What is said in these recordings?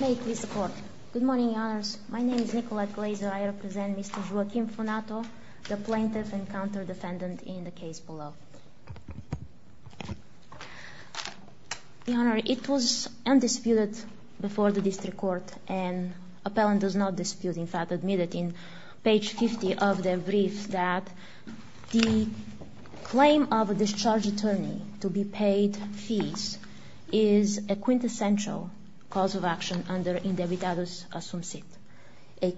May it please the Court. Good morning, Your Honours. My name is Nicolette Glazer. I represent Mr. Joaquim Finato, the plaintiff and counter-defendant in the case below. Your Honour, it was undisputed before the District Court and appellant does not dispute. In fact, admitted in page 50 of the brief that the claim of a discharge attorney to be paid fees is a quintessential cause of action under indebitados assume sit. A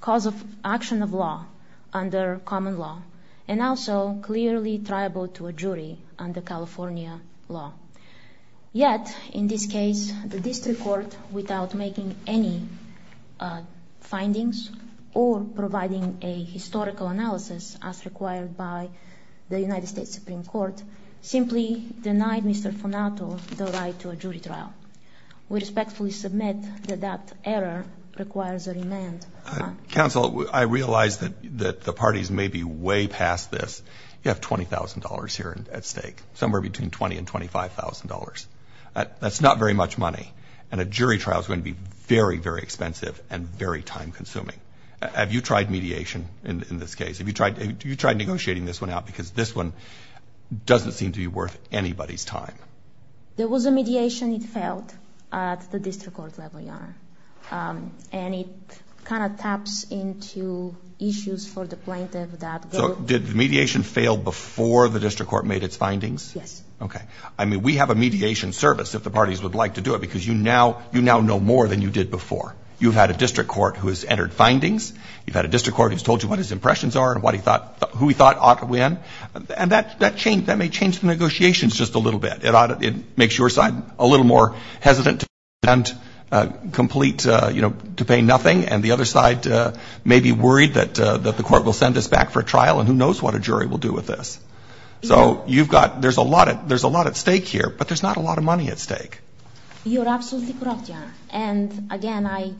cause of action of law under common law and also clearly triable to a jury under California law. Yet, in this case, the District Court, without making any findings or providing a historical analysis as required by the United States Supreme Court, simply denied Mr. Finato the right to a jury trial. We respectfully submit that that error requires a remand. Counsel, I realize that the parties may be way past this. You have $20,000 here at stake, somewhere between $20,000 and $25,000. That's not very much money and a jury trial is going to be very, very expensive and very time-consuming. Have you tried mediation in this case? Have you tried negotiating this one out because this one doesn't seem to be worth anybody's time? There was a mediation it failed at the District Court level, Your Honor. And it kind of taps into issues for the plaintiff that go... So did the mediation fail before the District Court made its findings? Yes. Okay. I mean, we have a mediation service if the parties would like to do it because you now know more than you did before. You've had a District Court who has entered findings. You've had a District Court who's told you what his impressions are and what he thought, who he thought ought to win. And that may change the negotiations just a little bit. It makes your side a little more hesitant and complete, you know, to pay nothing. And the other side may be worried that the court will send us back for a trial and who knows what a jury will do with this. So you've got – there's a lot at stake here, but there's not a lot of money at stake. You're absolutely correct, Your Honor. And, again,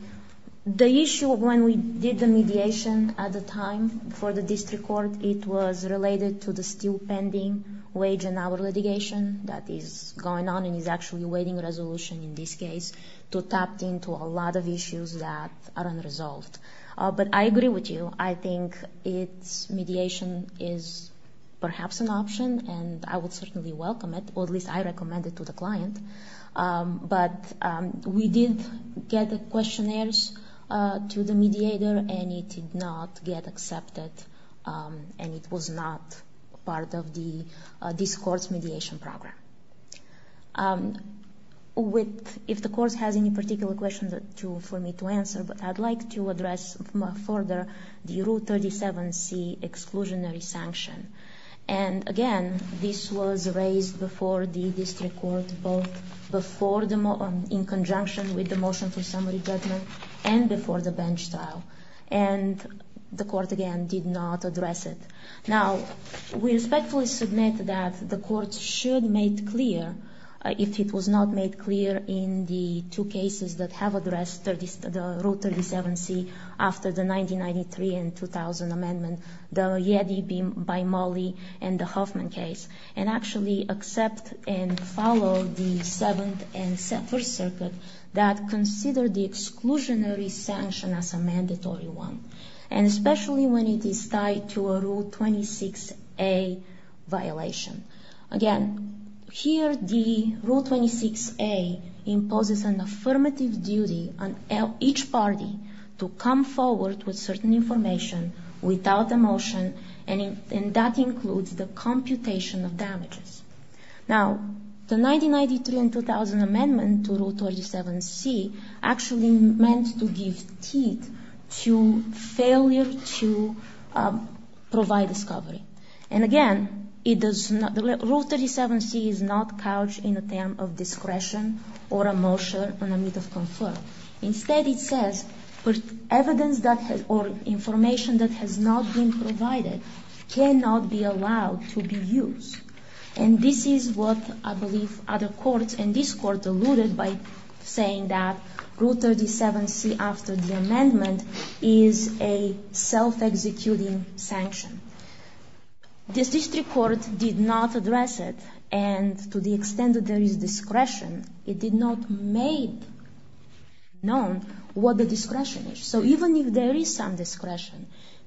the issue when we did the mediation at the time for the District Court, it was related to the still pending wage and hour litigation that is going on and is actually waiting a resolution in this case to tap into a lot of issues that are unresolved. But I agree with you. I think its mediation is perhaps an option, and I would certainly welcome it, or at least I recommend it to the client. But we did get the questionnaires to the mediator, and it did not get accepted, and it was not part of this court's mediation program. If the court has any particular questions for me to answer, but I'd like to address further the Route 37C exclusionary sanction. And, again, this was raised before the District Court both in conjunction with the motion for summary judgment and before the bench trial, and the court, again, did not address it. Now, we respectfully submit that the court should make clear, if it was not made clear in the two cases that have addressed the Route 37C after the 1993 and 2000 amendments, the Yeti by Mollie and the Hoffman case, and actually accept and follow the Seventh and First Circuit that consider the exclusionary sanction as a mandatory one, and especially when it is tied to a Rule 26A violation. Again, here the Rule 26A imposes an affirmative duty on each party to come forward with certain information without a motion, and that includes the computation of damages. Now, the 1993 and 2000 amendments to Route 37C actually meant to give teeth to failure to provide discovery. And, again, it does not – Route 37C is not couched in a term of discretion or a motion in the midst of confer. Instead, it says, evidence or information that has not been provided cannot be allowed to be used. And this is what I believe other courts, and this court, alluded by saying that Route 37C after the amendment is a self-executing sanction. This district court did not address it, and to the extent that there is discretion, it did not make known what the discretion is. So even if there is some discretion,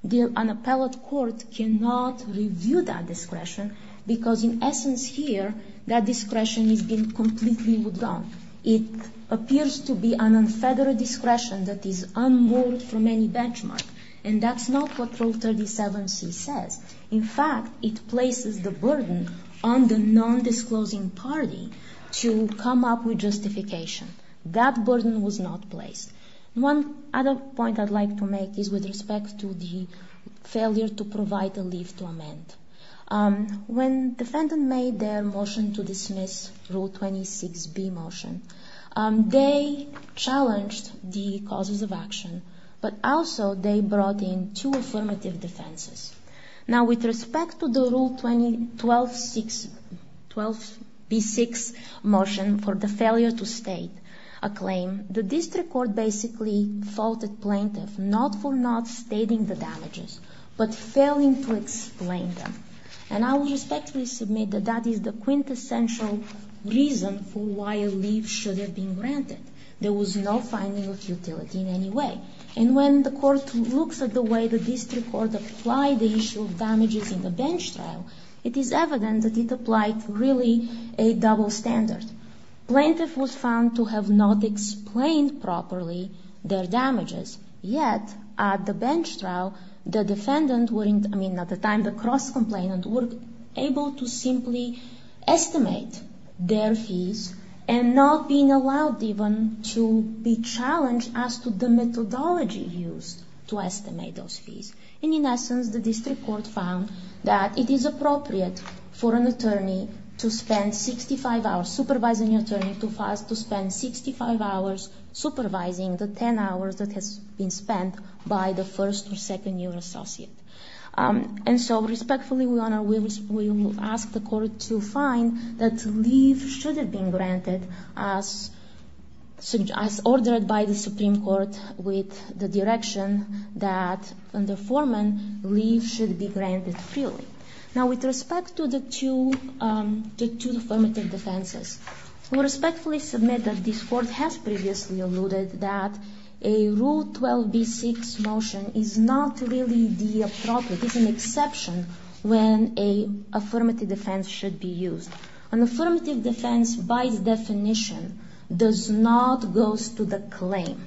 an appellate court cannot review that discretion, because in essence here, that discretion has been completely withdrawn. It appears to be an unfettered discretion that is unmoored from any benchmark, and that's not what Route 37C says. In fact, it places the burden on the non-disclosing party to come up with justification. That burden was not placed. One other point I'd like to make is with respect to the failure to provide a leave to amend. When defendant made their motion to dismiss Route 26B motion, they challenged the causes of action, but also they brought in two affirmative defenses. Now, with respect to the Route 12B6 motion for the failure to state a claim, the district court basically faulted plaintiff not for not stating the damages, but failing to explain them. And I will respectfully submit that that is the quintessential reason for why a leave should have been granted. There was no finding of utility in any way. And when the court looks at the way the district court applied the issue of damages in the bench trial, it is evident that it applied really a double standard. Plaintiff was found to have not explained properly their damages. Yet, at the bench trial, the defendant, I mean, at the time, the cross-complainant, were able to simply estimate their fees and not being allowed even to be challenged as to the methodology used to estimate those fees. And in essence, the district court found that it is appropriate for an attorney to spend 65 hours, supervising attorney to spend 65 hours supervising the 10 hours that has been spent by the first or second year associate. And so respectfully, we will ask the court to find that leave should have been granted as ordered by the Supreme Court with the direction that the foreman leave should be granted freely. Now, with respect to the two affirmative defenses, we respectfully submit that this court has previously alluded that a Rule 12b-6 motion is not really the appropriate. It's an exception when an affirmative defense should be used. An affirmative defense, by definition, does not go to the claim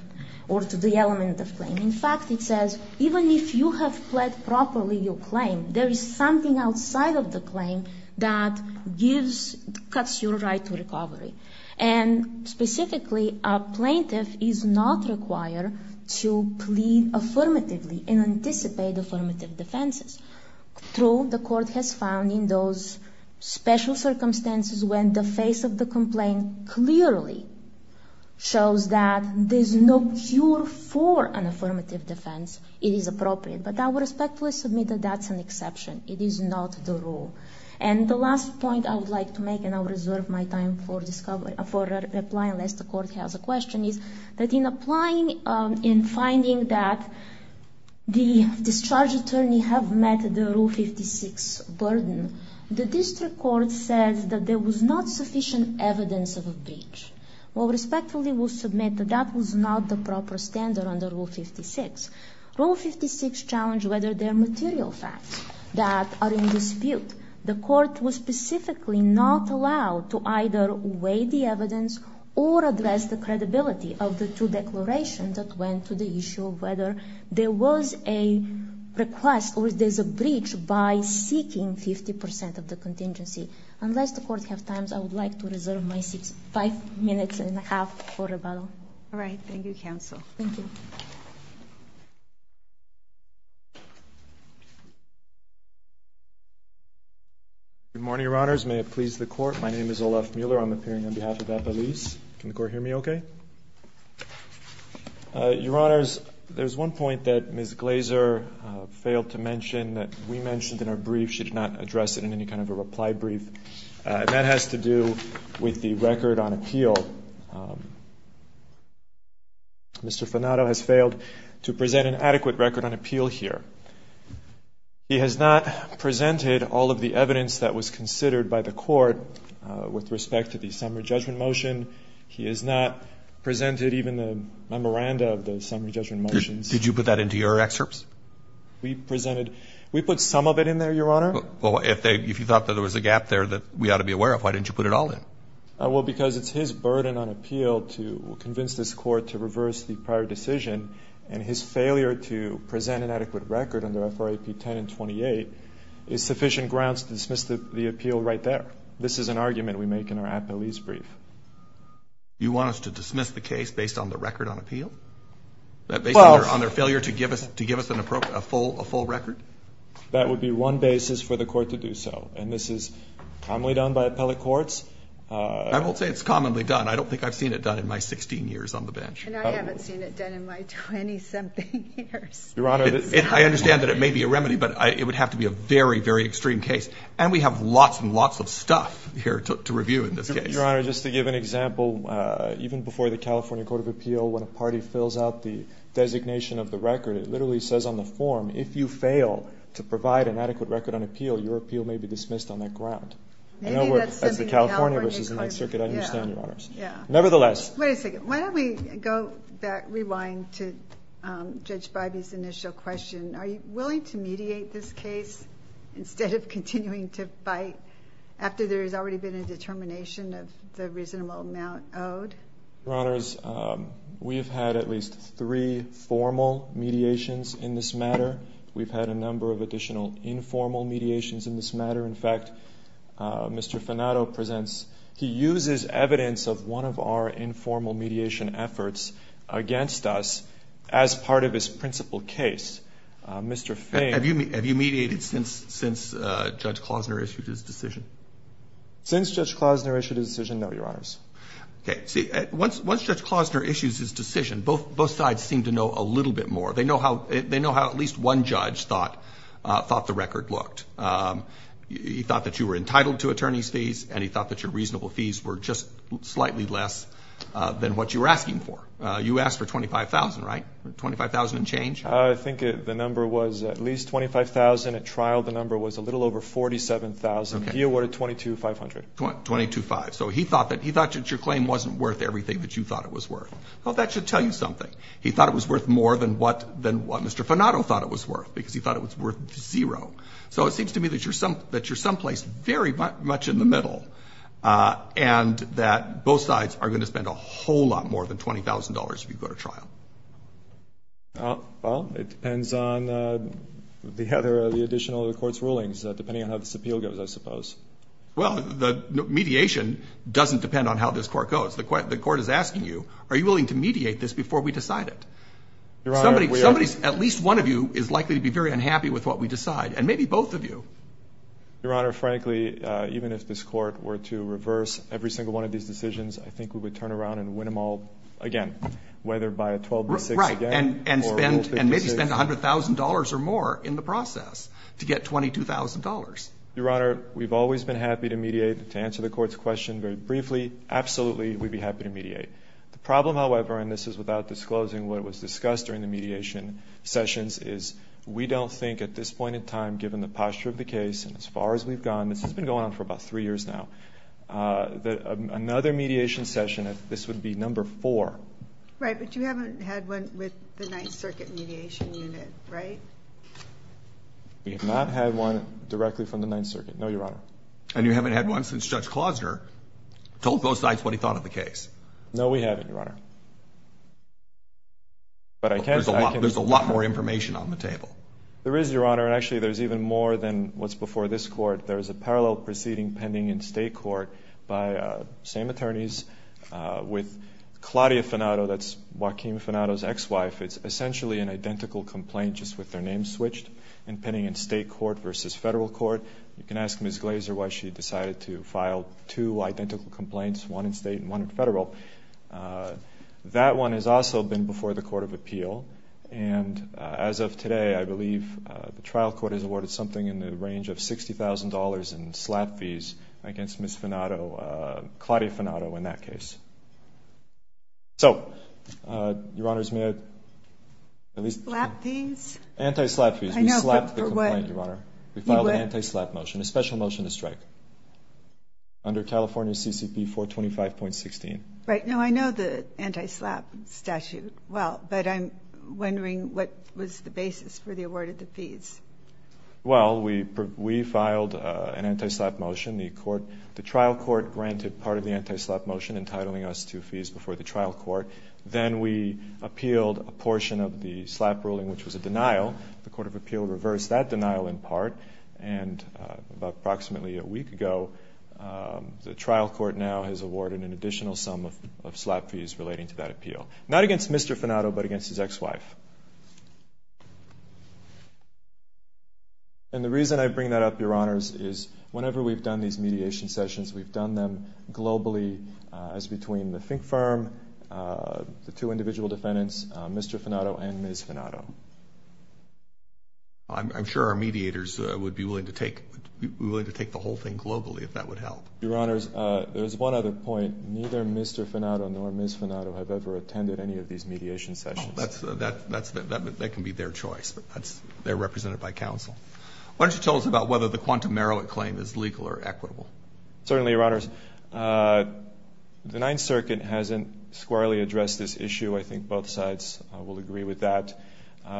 or to the element of claim. In fact, it says, even if you have pled properly your claim, there is something outside of the claim that cuts your right to recovery. And specifically, a plaintiff is not required to plead affirmatively and anticipate affirmative defenses. True, the court has found in those special circumstances when the face of the complaint clearly shows that there's no cure for an affirmative defense, it is appropriate. But I will respectfully submit that that's an exception. It is not the rule. And the last point I would like to make, and I will reserve my time for a reply unless the court has a question, is that in applying, in finding that the discharge attorney have met the Rule 56 burden, the district court says that there was not sufficient evidence of a breach. Well, respectfully, we'll submit that that was not the proper standard under Rule 56. Rule 56 challenged whether there are material facts that are in dispute. The court was specifically not allowed to either weigh the evidence or address the credibility of the two declarations that went to the issue of whether there was a request or there's a breach by seeking 50% of the contingency. Unless the court has time, I would like to reserve my five minutes and a half for rebuttal. All right. Thank you, counsel. Thank you. Good morning, Your Honors. May it please the Court. My name is Olaf Mueller. I'm appearing on behalf of Appelese. Can the Court hear me okay? Your Honors, there's one point that Ms. Glaser failed to mention that we mentioned in our brief. She did not address it in any kind of a reply brief. That has to do with the record on appeal. Mr. Fanato has failed to present an adequate record on appeal here. He has not presented all of the evidence that was considered by the court with respect to the summary judgment motion. He has not presented even the memoranda of the summary judgment motions. Did you put that into your excerpts? We presented – we put some of it in there, Your Honor. Well, if you thought that there was a gap there that we ought to be aware of, why didn't you put it all in? Well, because it's his burden on appeal to convince this court to reverse the prior decision, and his failure to present an adequate record under FRAP 10 and 28 is sufficient grounds to dismiss the appeal right there. This is an argument we make in our Appelese brief. You want us to dismiss the case based on the record on appeal? Based on their failure to give us a full record? That would be one basis for the court to do so, and this is commonly done by appellate courts. I won't say it's commonly done. I don't think I've seen it done in my 16 years on the bench. And I haven't seen it done in my 20-something years. Your Honor, I understand that it may be a remedy, but it would have to be a very, very extreme case, and we have lots and lots of stuff here to review in this case. Your Honor, just to give an example, even before the California court of appeal, when a party fills out the designation of the record, it literally says on the form, if you fail to provide an adequate record on appeal, your appeal may be dismissed on that ground. Maybe that's something the California court – As the California versus the next circuit, I understand, Your Honors. Nevertheless. Wait a second. Why don't we go back, rewind to Judge Bybee's initial question. Are you willing to mediate this case instead of continuing to fight after there has already been a determination of the reasonable amount owed? Your Honors, we have had at least three formal mediations in this matter. In fact, Mr. Fanato presents. He uses evidence of one of our informal mediation efforts against us as part of his principal case. Have you mediated since Judge Klausner issued his decision? Since Judge Klausner issued his decision, no, Your Honors. Once Judge Klausner issues his decision, both sides seem to know a little bit more. They know how at least one judge thought the record looked. He thought that you were entitled to attorney's fees, and he thought that your reasonable fees were just slightly less than what you were asking for. You asked for $25,000, right? $25,000 and change? I think the number was at least $25,000. At trial, the number was a little over $47,000. He awarded $22,500. $22,500. So he thought that your claim wasn't worth everything that you thought it was worth. Well, that should tell you something. He thought it was worth more than what Mr. Fanato thought it was worth, because he thought it was worth zero. So it seems to me that you're someplace very much in the middle and that both sides are going to spend a whole lot more than $20,000 if you go to trial. Well, it depends on the additional court's rulings, depending on how this appeal goes, I suppose. Well, the mediation doesn't depend on how this court goes. The court is asking you, are you willing to mediate this before we decide it? Your Honor, we are. Somebody, at least one of you, is likely to be very unhappy with what we decide, and maybe both of you. Your Honor, frankly, even if this court were to reverse every single one of these decisions, I think we would turn around and win them all again, whether by a 12-6 again. Right, and maybe spend $100,000 or more in the process to get $22,000. Your Honor, we've always been happy to mediate, to answer the court's question very briefly. Absolutely, we'd be happy to mediate. The problem, however, and this is without disclosing what was discussed during the mediation sessions, is we don't think at this point in time, given the posture of the case and as far as we've gone, this has been going on for about three years now, that another mediation session, this would be number four. Right, but you haven't had one with the Ninth Circuit Mediation Unit, right? We have not had one directly from the Ninth Circuit, no, Your Honor. And you haven't had one since Judge Klosner told both sides what he thought of the case? No, we haven't, Your Honor. There's a lot more information on the table. There is, Your Honor, and actually there's even more than what's before this court. There's a parallel proceeding pending in state court by the same attorneys with Claudia Fanato. That's Joaquin Fanato's ex-wife. It's essentially an identical complaint just with their names switched and pending in state court versus federal court. You can ask Ms. Glazer why she decided to file two identical complaints, one in state and one in federal. That one has also been before the Court of Appeal. And as of today, I believe the trial court has awarded something in the range of $60,000 in slap fees against Ms. Fanato, Claudia Fanato in that case. So, Your Honors, may I at least? Slap fees? We slapped the complaint, Your Honor. We filed an anti-slap motion, a special motion to strike under California CCP 425.16. Right. Now, I know the anti-slap statute well, but I'm wondering what was the basis for the award of the fees. Well, we filed an anti-slap motion. The trial court granted part of the anti-slap motion entitling us to fees before the trial court. Then we appealed a portion of the slap ruling, which was a denial. The Court of Appeal reversed that denial in part, and about approximately a week ago, the trial court now has awarded an additional sum of slap fees relating to that appeal. Not against Mr. Fanato, but against his ex-wife. And the reason I bring that up, Your Honors, is whenever we've done these mediation sessions, we've done them globally as between the Fink Firm, the two individual defendants, Mr. Fanato and Ms. Fanato. I'm sure our mediators would be willing to take the whole thing globally if that would help. Your Honors, there's one other point. Neither Mr. Fanato nor Ms. Fanato have ever attended any of these mediation sessions. That can be their choice. They're represented by counsel. Why don't you tell us about whether the Quantum Meroit claim is legal or equitable? Certainly, Your Honors. The Ninth Circuit hasn't squarely addressed this issue. I think both sides will agree with that.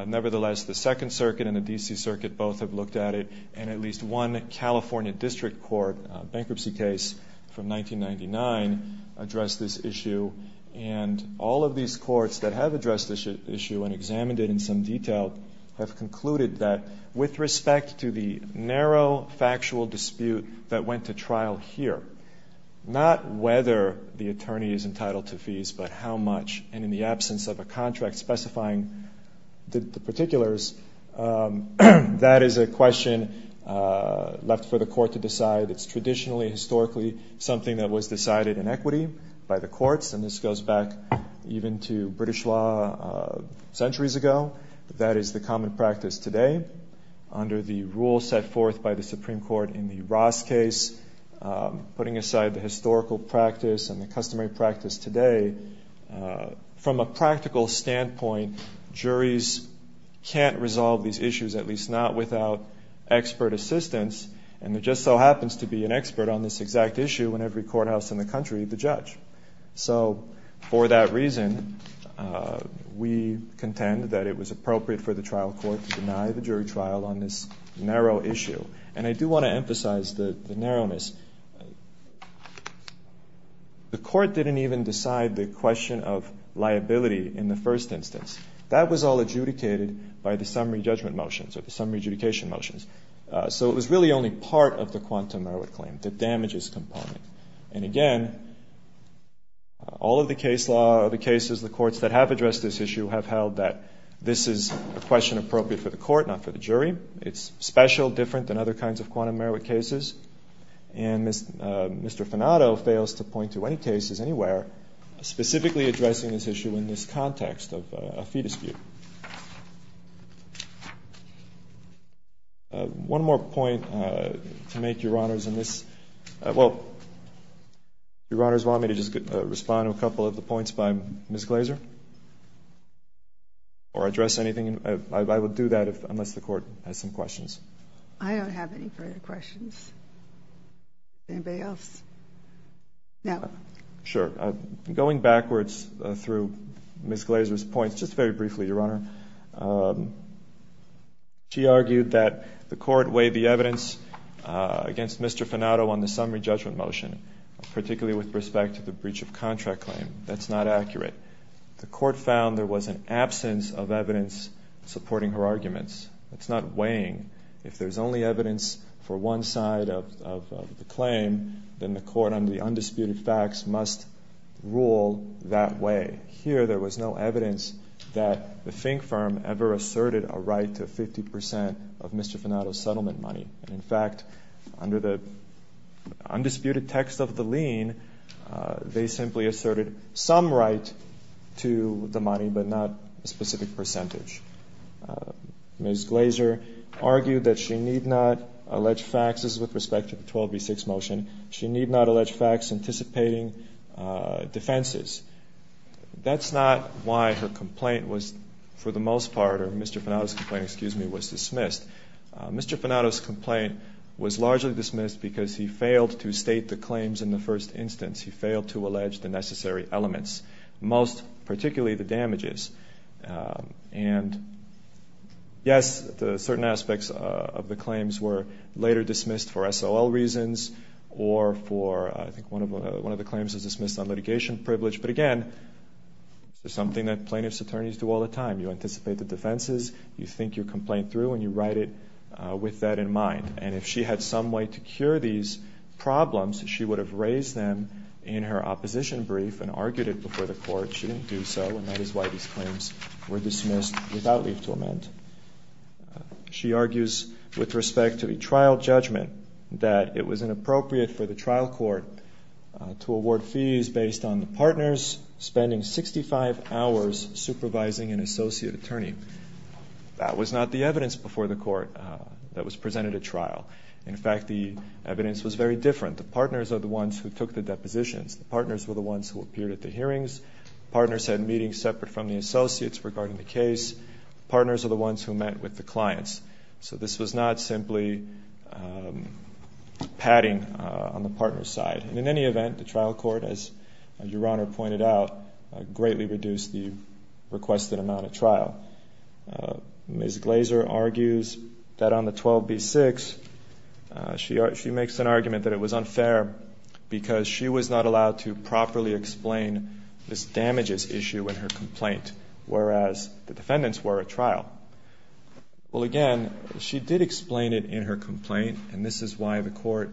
Nevertheless, the Second Circuit and the D.C. Circuit both have looked at it, and at least one California district court bankruptcy case from 1999 addressed this issue. And all of these courts that have addressed this issue and examined it in some detail have concluded that with respect to the narrow factual dispute that went to trial here, not whether the attorney is entitled to fees but how much, and in the absence of a contract specifying the particulars, that is a question left for the court to decide. It's traditionally, historically, something that was decided in equity by the courts, and this goes back even to British law centuries ago. That is the common practice today. Under the rule set forth by the Supreme Court in the Ross case, putting aside the historical practice and the customary practice today, from a practical standpoint, juries can't resolve these issues, at least not without expert assistance, and there just so happens to be an expert on this exact issue in every courthouse in the country, the judge. So for that reason, we contend that it was appropriate for the trial court to deny the jury trial on this narrow issue. And I do want to emphasize the narrowness. The court didn't even decide the question of liability in the first instance. That was all adjudicated by the summary judgment motions or the summary adjudication motions. So it was really only part of the quantum merit claim, the damages component. And again, all of the case law or the cases, the courts that have addressed this issue, have held that this is a question appropriate for the court, not for the jury. It's special, different than other kinds of quantum merit cases, and Mr. Fanato fails to point to any cases anywhere specifically addressing this issue in this context of a fee dispute. One more point to make, Your Honors, in this. Well, Your Honors, do you want me to just respond to a couple of the points by Ms. Glaser? Or address anything? I would do that unless the court has some questions. I don't have any further questions. Anybody else? No. Sure. Going backwards through Ms. Glaser's points, just very briefly, Your Honor, she argued that the court weighed the evidence against Mr. Fanato on the summary judgment motion, particularly with respect to the breach of contract claim. That's not accurate. The court found there was an absence of evidence supporting her arguments. That's not weighing. If there's only evidence for one side of the claim, then the court, under the undisputed facts, must rule that way. Here, there was no evidence that the Fink firm ever asserted a right to 50 percent of Mr. Fanato's settlement money. In fact, under the undisputed text of the lien, they simply asserted some right to the money, but not a specific percentage. Ms. Glaser argued that she need not allege facts. This is with respect to the 12B6 motion. She need not allege facts anticipating defenses. That's not why her complaint was, for the most part, or Mr. Fanato's complaint, excuse me, was dismissed. Mr. Fanato's complaint was largely dismissed because he failed to state the claims in the first instance. He failed to allege the necessary elements, most particularly the damages. And, yes, certain aspects of the claims were later dismissed for SOL reasons or for, I think, one of the claims was dismissed on litigation privilege. But, again, it's something that plaintiff's attorneys do all the time. You anticipate the defenses. You think your complaint through, and you write it with that in mind. And if she had some way to cure these problems, she would have raised them in her opposition brief and argued it before the court. She didn't do so, and that is why these claims were dismissed without leave to amend. She argues with respect to a trial judgment that it was inappropriate for the trial court to award fees based on the partners spending 65 hours supervising an associate attorney. That was not the evidence before the court that was presented at trial. In fact, the evidence was very different. The partners are the ones who took the depositions. The partners were the ones who appeared at the hearings. Partners had meetings separate from the associates regarding the case. Partners are the ones who met with the clients. So this was not simply padding on the partner's side. In any event, the trial court, as Your Honor pointed out, greatly reduced the requested amount of trial. Ms. Glaser argues that on the 12b-6, she makes an argument that it was unfair because she was not allowed to properly explain this damages issue in her complaint, whereas the defendants were at trial. Well, again, she did explain it in her complaint, and this is why the court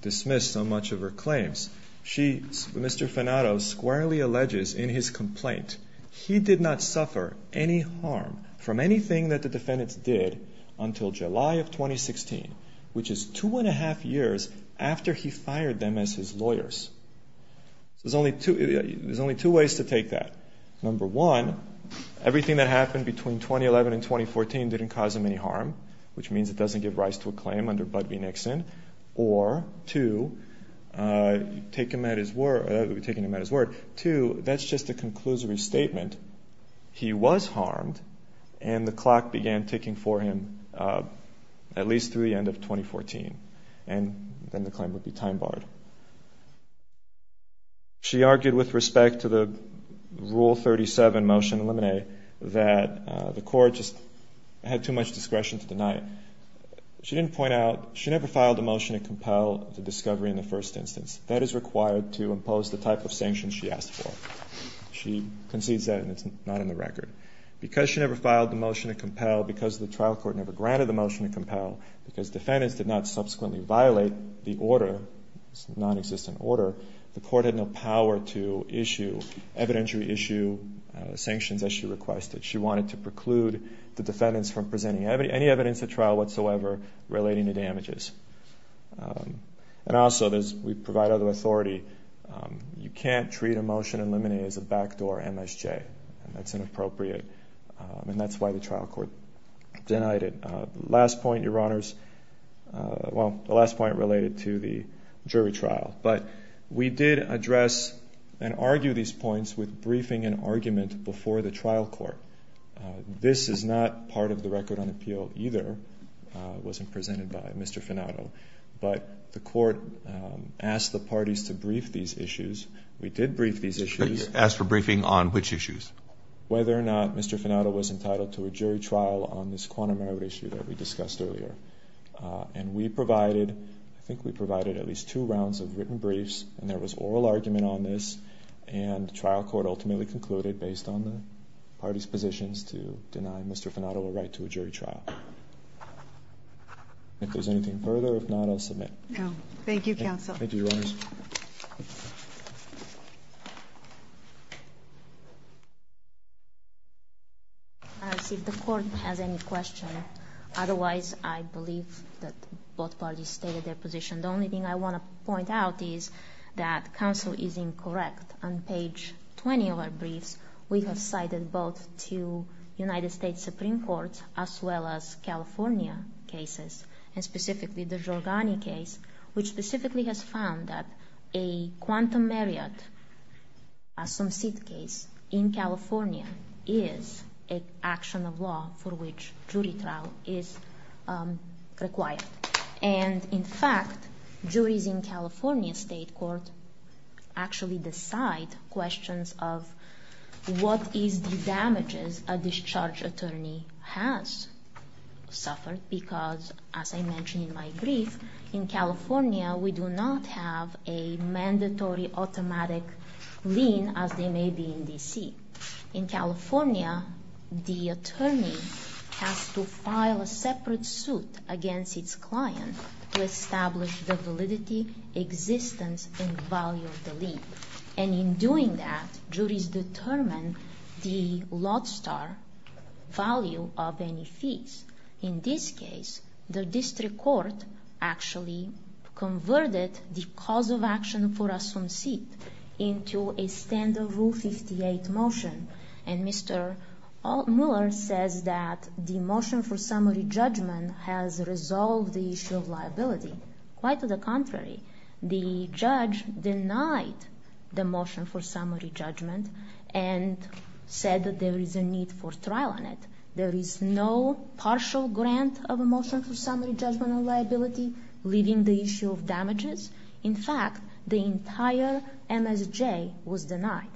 dismissed so much of her claims. Mr. Fanato squarely alleges in his complaint he did not suffer any harm from anything that the defendants did until July of 2016, which is two and a half years after he fired them as his lawyers. There's only two ways to take that. Number one, everything that happened between 2011 and 2014 didn't cause him any harm, which means it doesn't give rise to a claim under Bud v. Nixon. Or two, taking him at his word, two, that's just a conclusory statement. He was harmed, and the clock began ticking for him at least through the end of 2014. And then the claim would be time-barred. She argued with respect to the Rule 37 motion in Limine that the court just had too much discretion to deny it. She didn't point out, she never filed a motion to compel the discovery in the first instance. That is required to impose the type of sanctions she asked for. She concedes that, and it's not in the record. Because she never filed the motion to compel, because the trial court never granted the motion to compel, because defendants did not subsequently violate the order, the non-existent order, the court had no power to issue evidentiary sanctions as she requested. She wanted to preclude the defendants from presenting any evidence at trial whatsoever relating to damages. And also, we provide other authority. You can't treat a motion in Limine as a backdoor MSJ. That's inappropriate, and that's why the trial court denied it. The last point, Your Honors, well, the last point related to the jury trial. But we did address and argue these points with briefing and argument before the trial court. This is not part of the record on appeal either. It wasn't presented by Mr. Fanato. But the court asked the parties to brief these issues. We did brief these issues. Asked for briefing on which issues? Whether or not Mr. Fanato was entitled to a jury trial on this quantum error issue that we discussed earlier. And we provided, I think we provided at least two rounds of written briefs. And there was oral argument on this. And the trial court ultimately concluded, based on the parties' positions, to deny Mr. Fanato a right to a jury trial. If there's anything further, if not, I'll submit. No. Thank you, counsel. Thank you, Your Honors. I'll see if the court has any questions. Otherwise, I believe that both parties stated their position. The only thing I want to point out is that counsel is incorrect. On page 20 of our briefs, we have cited both two United States Supreme Courts as well as California cases. And specifically, the Giorgani case, which specifically has found that a quantum myriad, a some seed case in California, is an action of law for which jury trial is required. And in fact, juries in California state court actually decide questions of what is the damages a discharge attorney has suffered. Because, as I mentioned in my brief, in California, we do not have a mandatory automatic lien, as they may be in D.C. In California, the attorney has to file a separate suit against its client to establish the validity, existence, and value of the lien. And in doing that, juries determine the lodestar value of any fees. In this case, the district court actually converted the cause of action for a some seed into a standard Rule 58 motion. And Mr. Mueller says that the motion for summary judgment has resolved the issue of liability. Quite to the contrary, the judge denied the motion for summary judgment and said that there is a need for trial on it. There is no partial grant of a motion for summary judgment on liability, leaving the issue of damages. In fact, the entire MSJ was denied.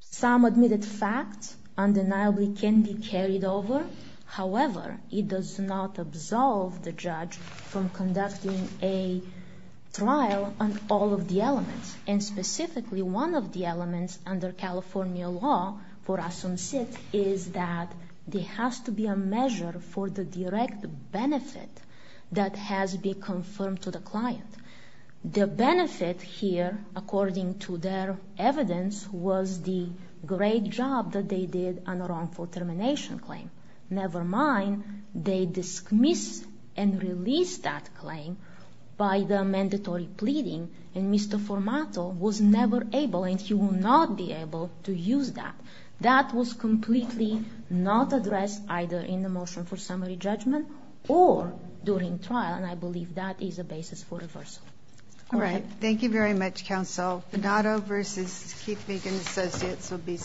Some admitted facts undeniably can be carried over. However, it does not absolve the judge from conducting a trial on all of the elements. And specifically, one of the elements under California law for a some seed is that there has to be a measure for the direct benefit that has been confirmed to the client. The benefit here, according to their evidence, was the great job that they did on the wrongful termination claim. Never mind, they dismiss and release that claim by the mandatory pleading. And Mr. Formato was never able and he will not be able to use that. That was completely not addressed either in the motion for summary judgment or during trial. And I believe that is a basis for reversal. All right. Thank you very much, counsel. Not over. This is Keith Megan Associates will be.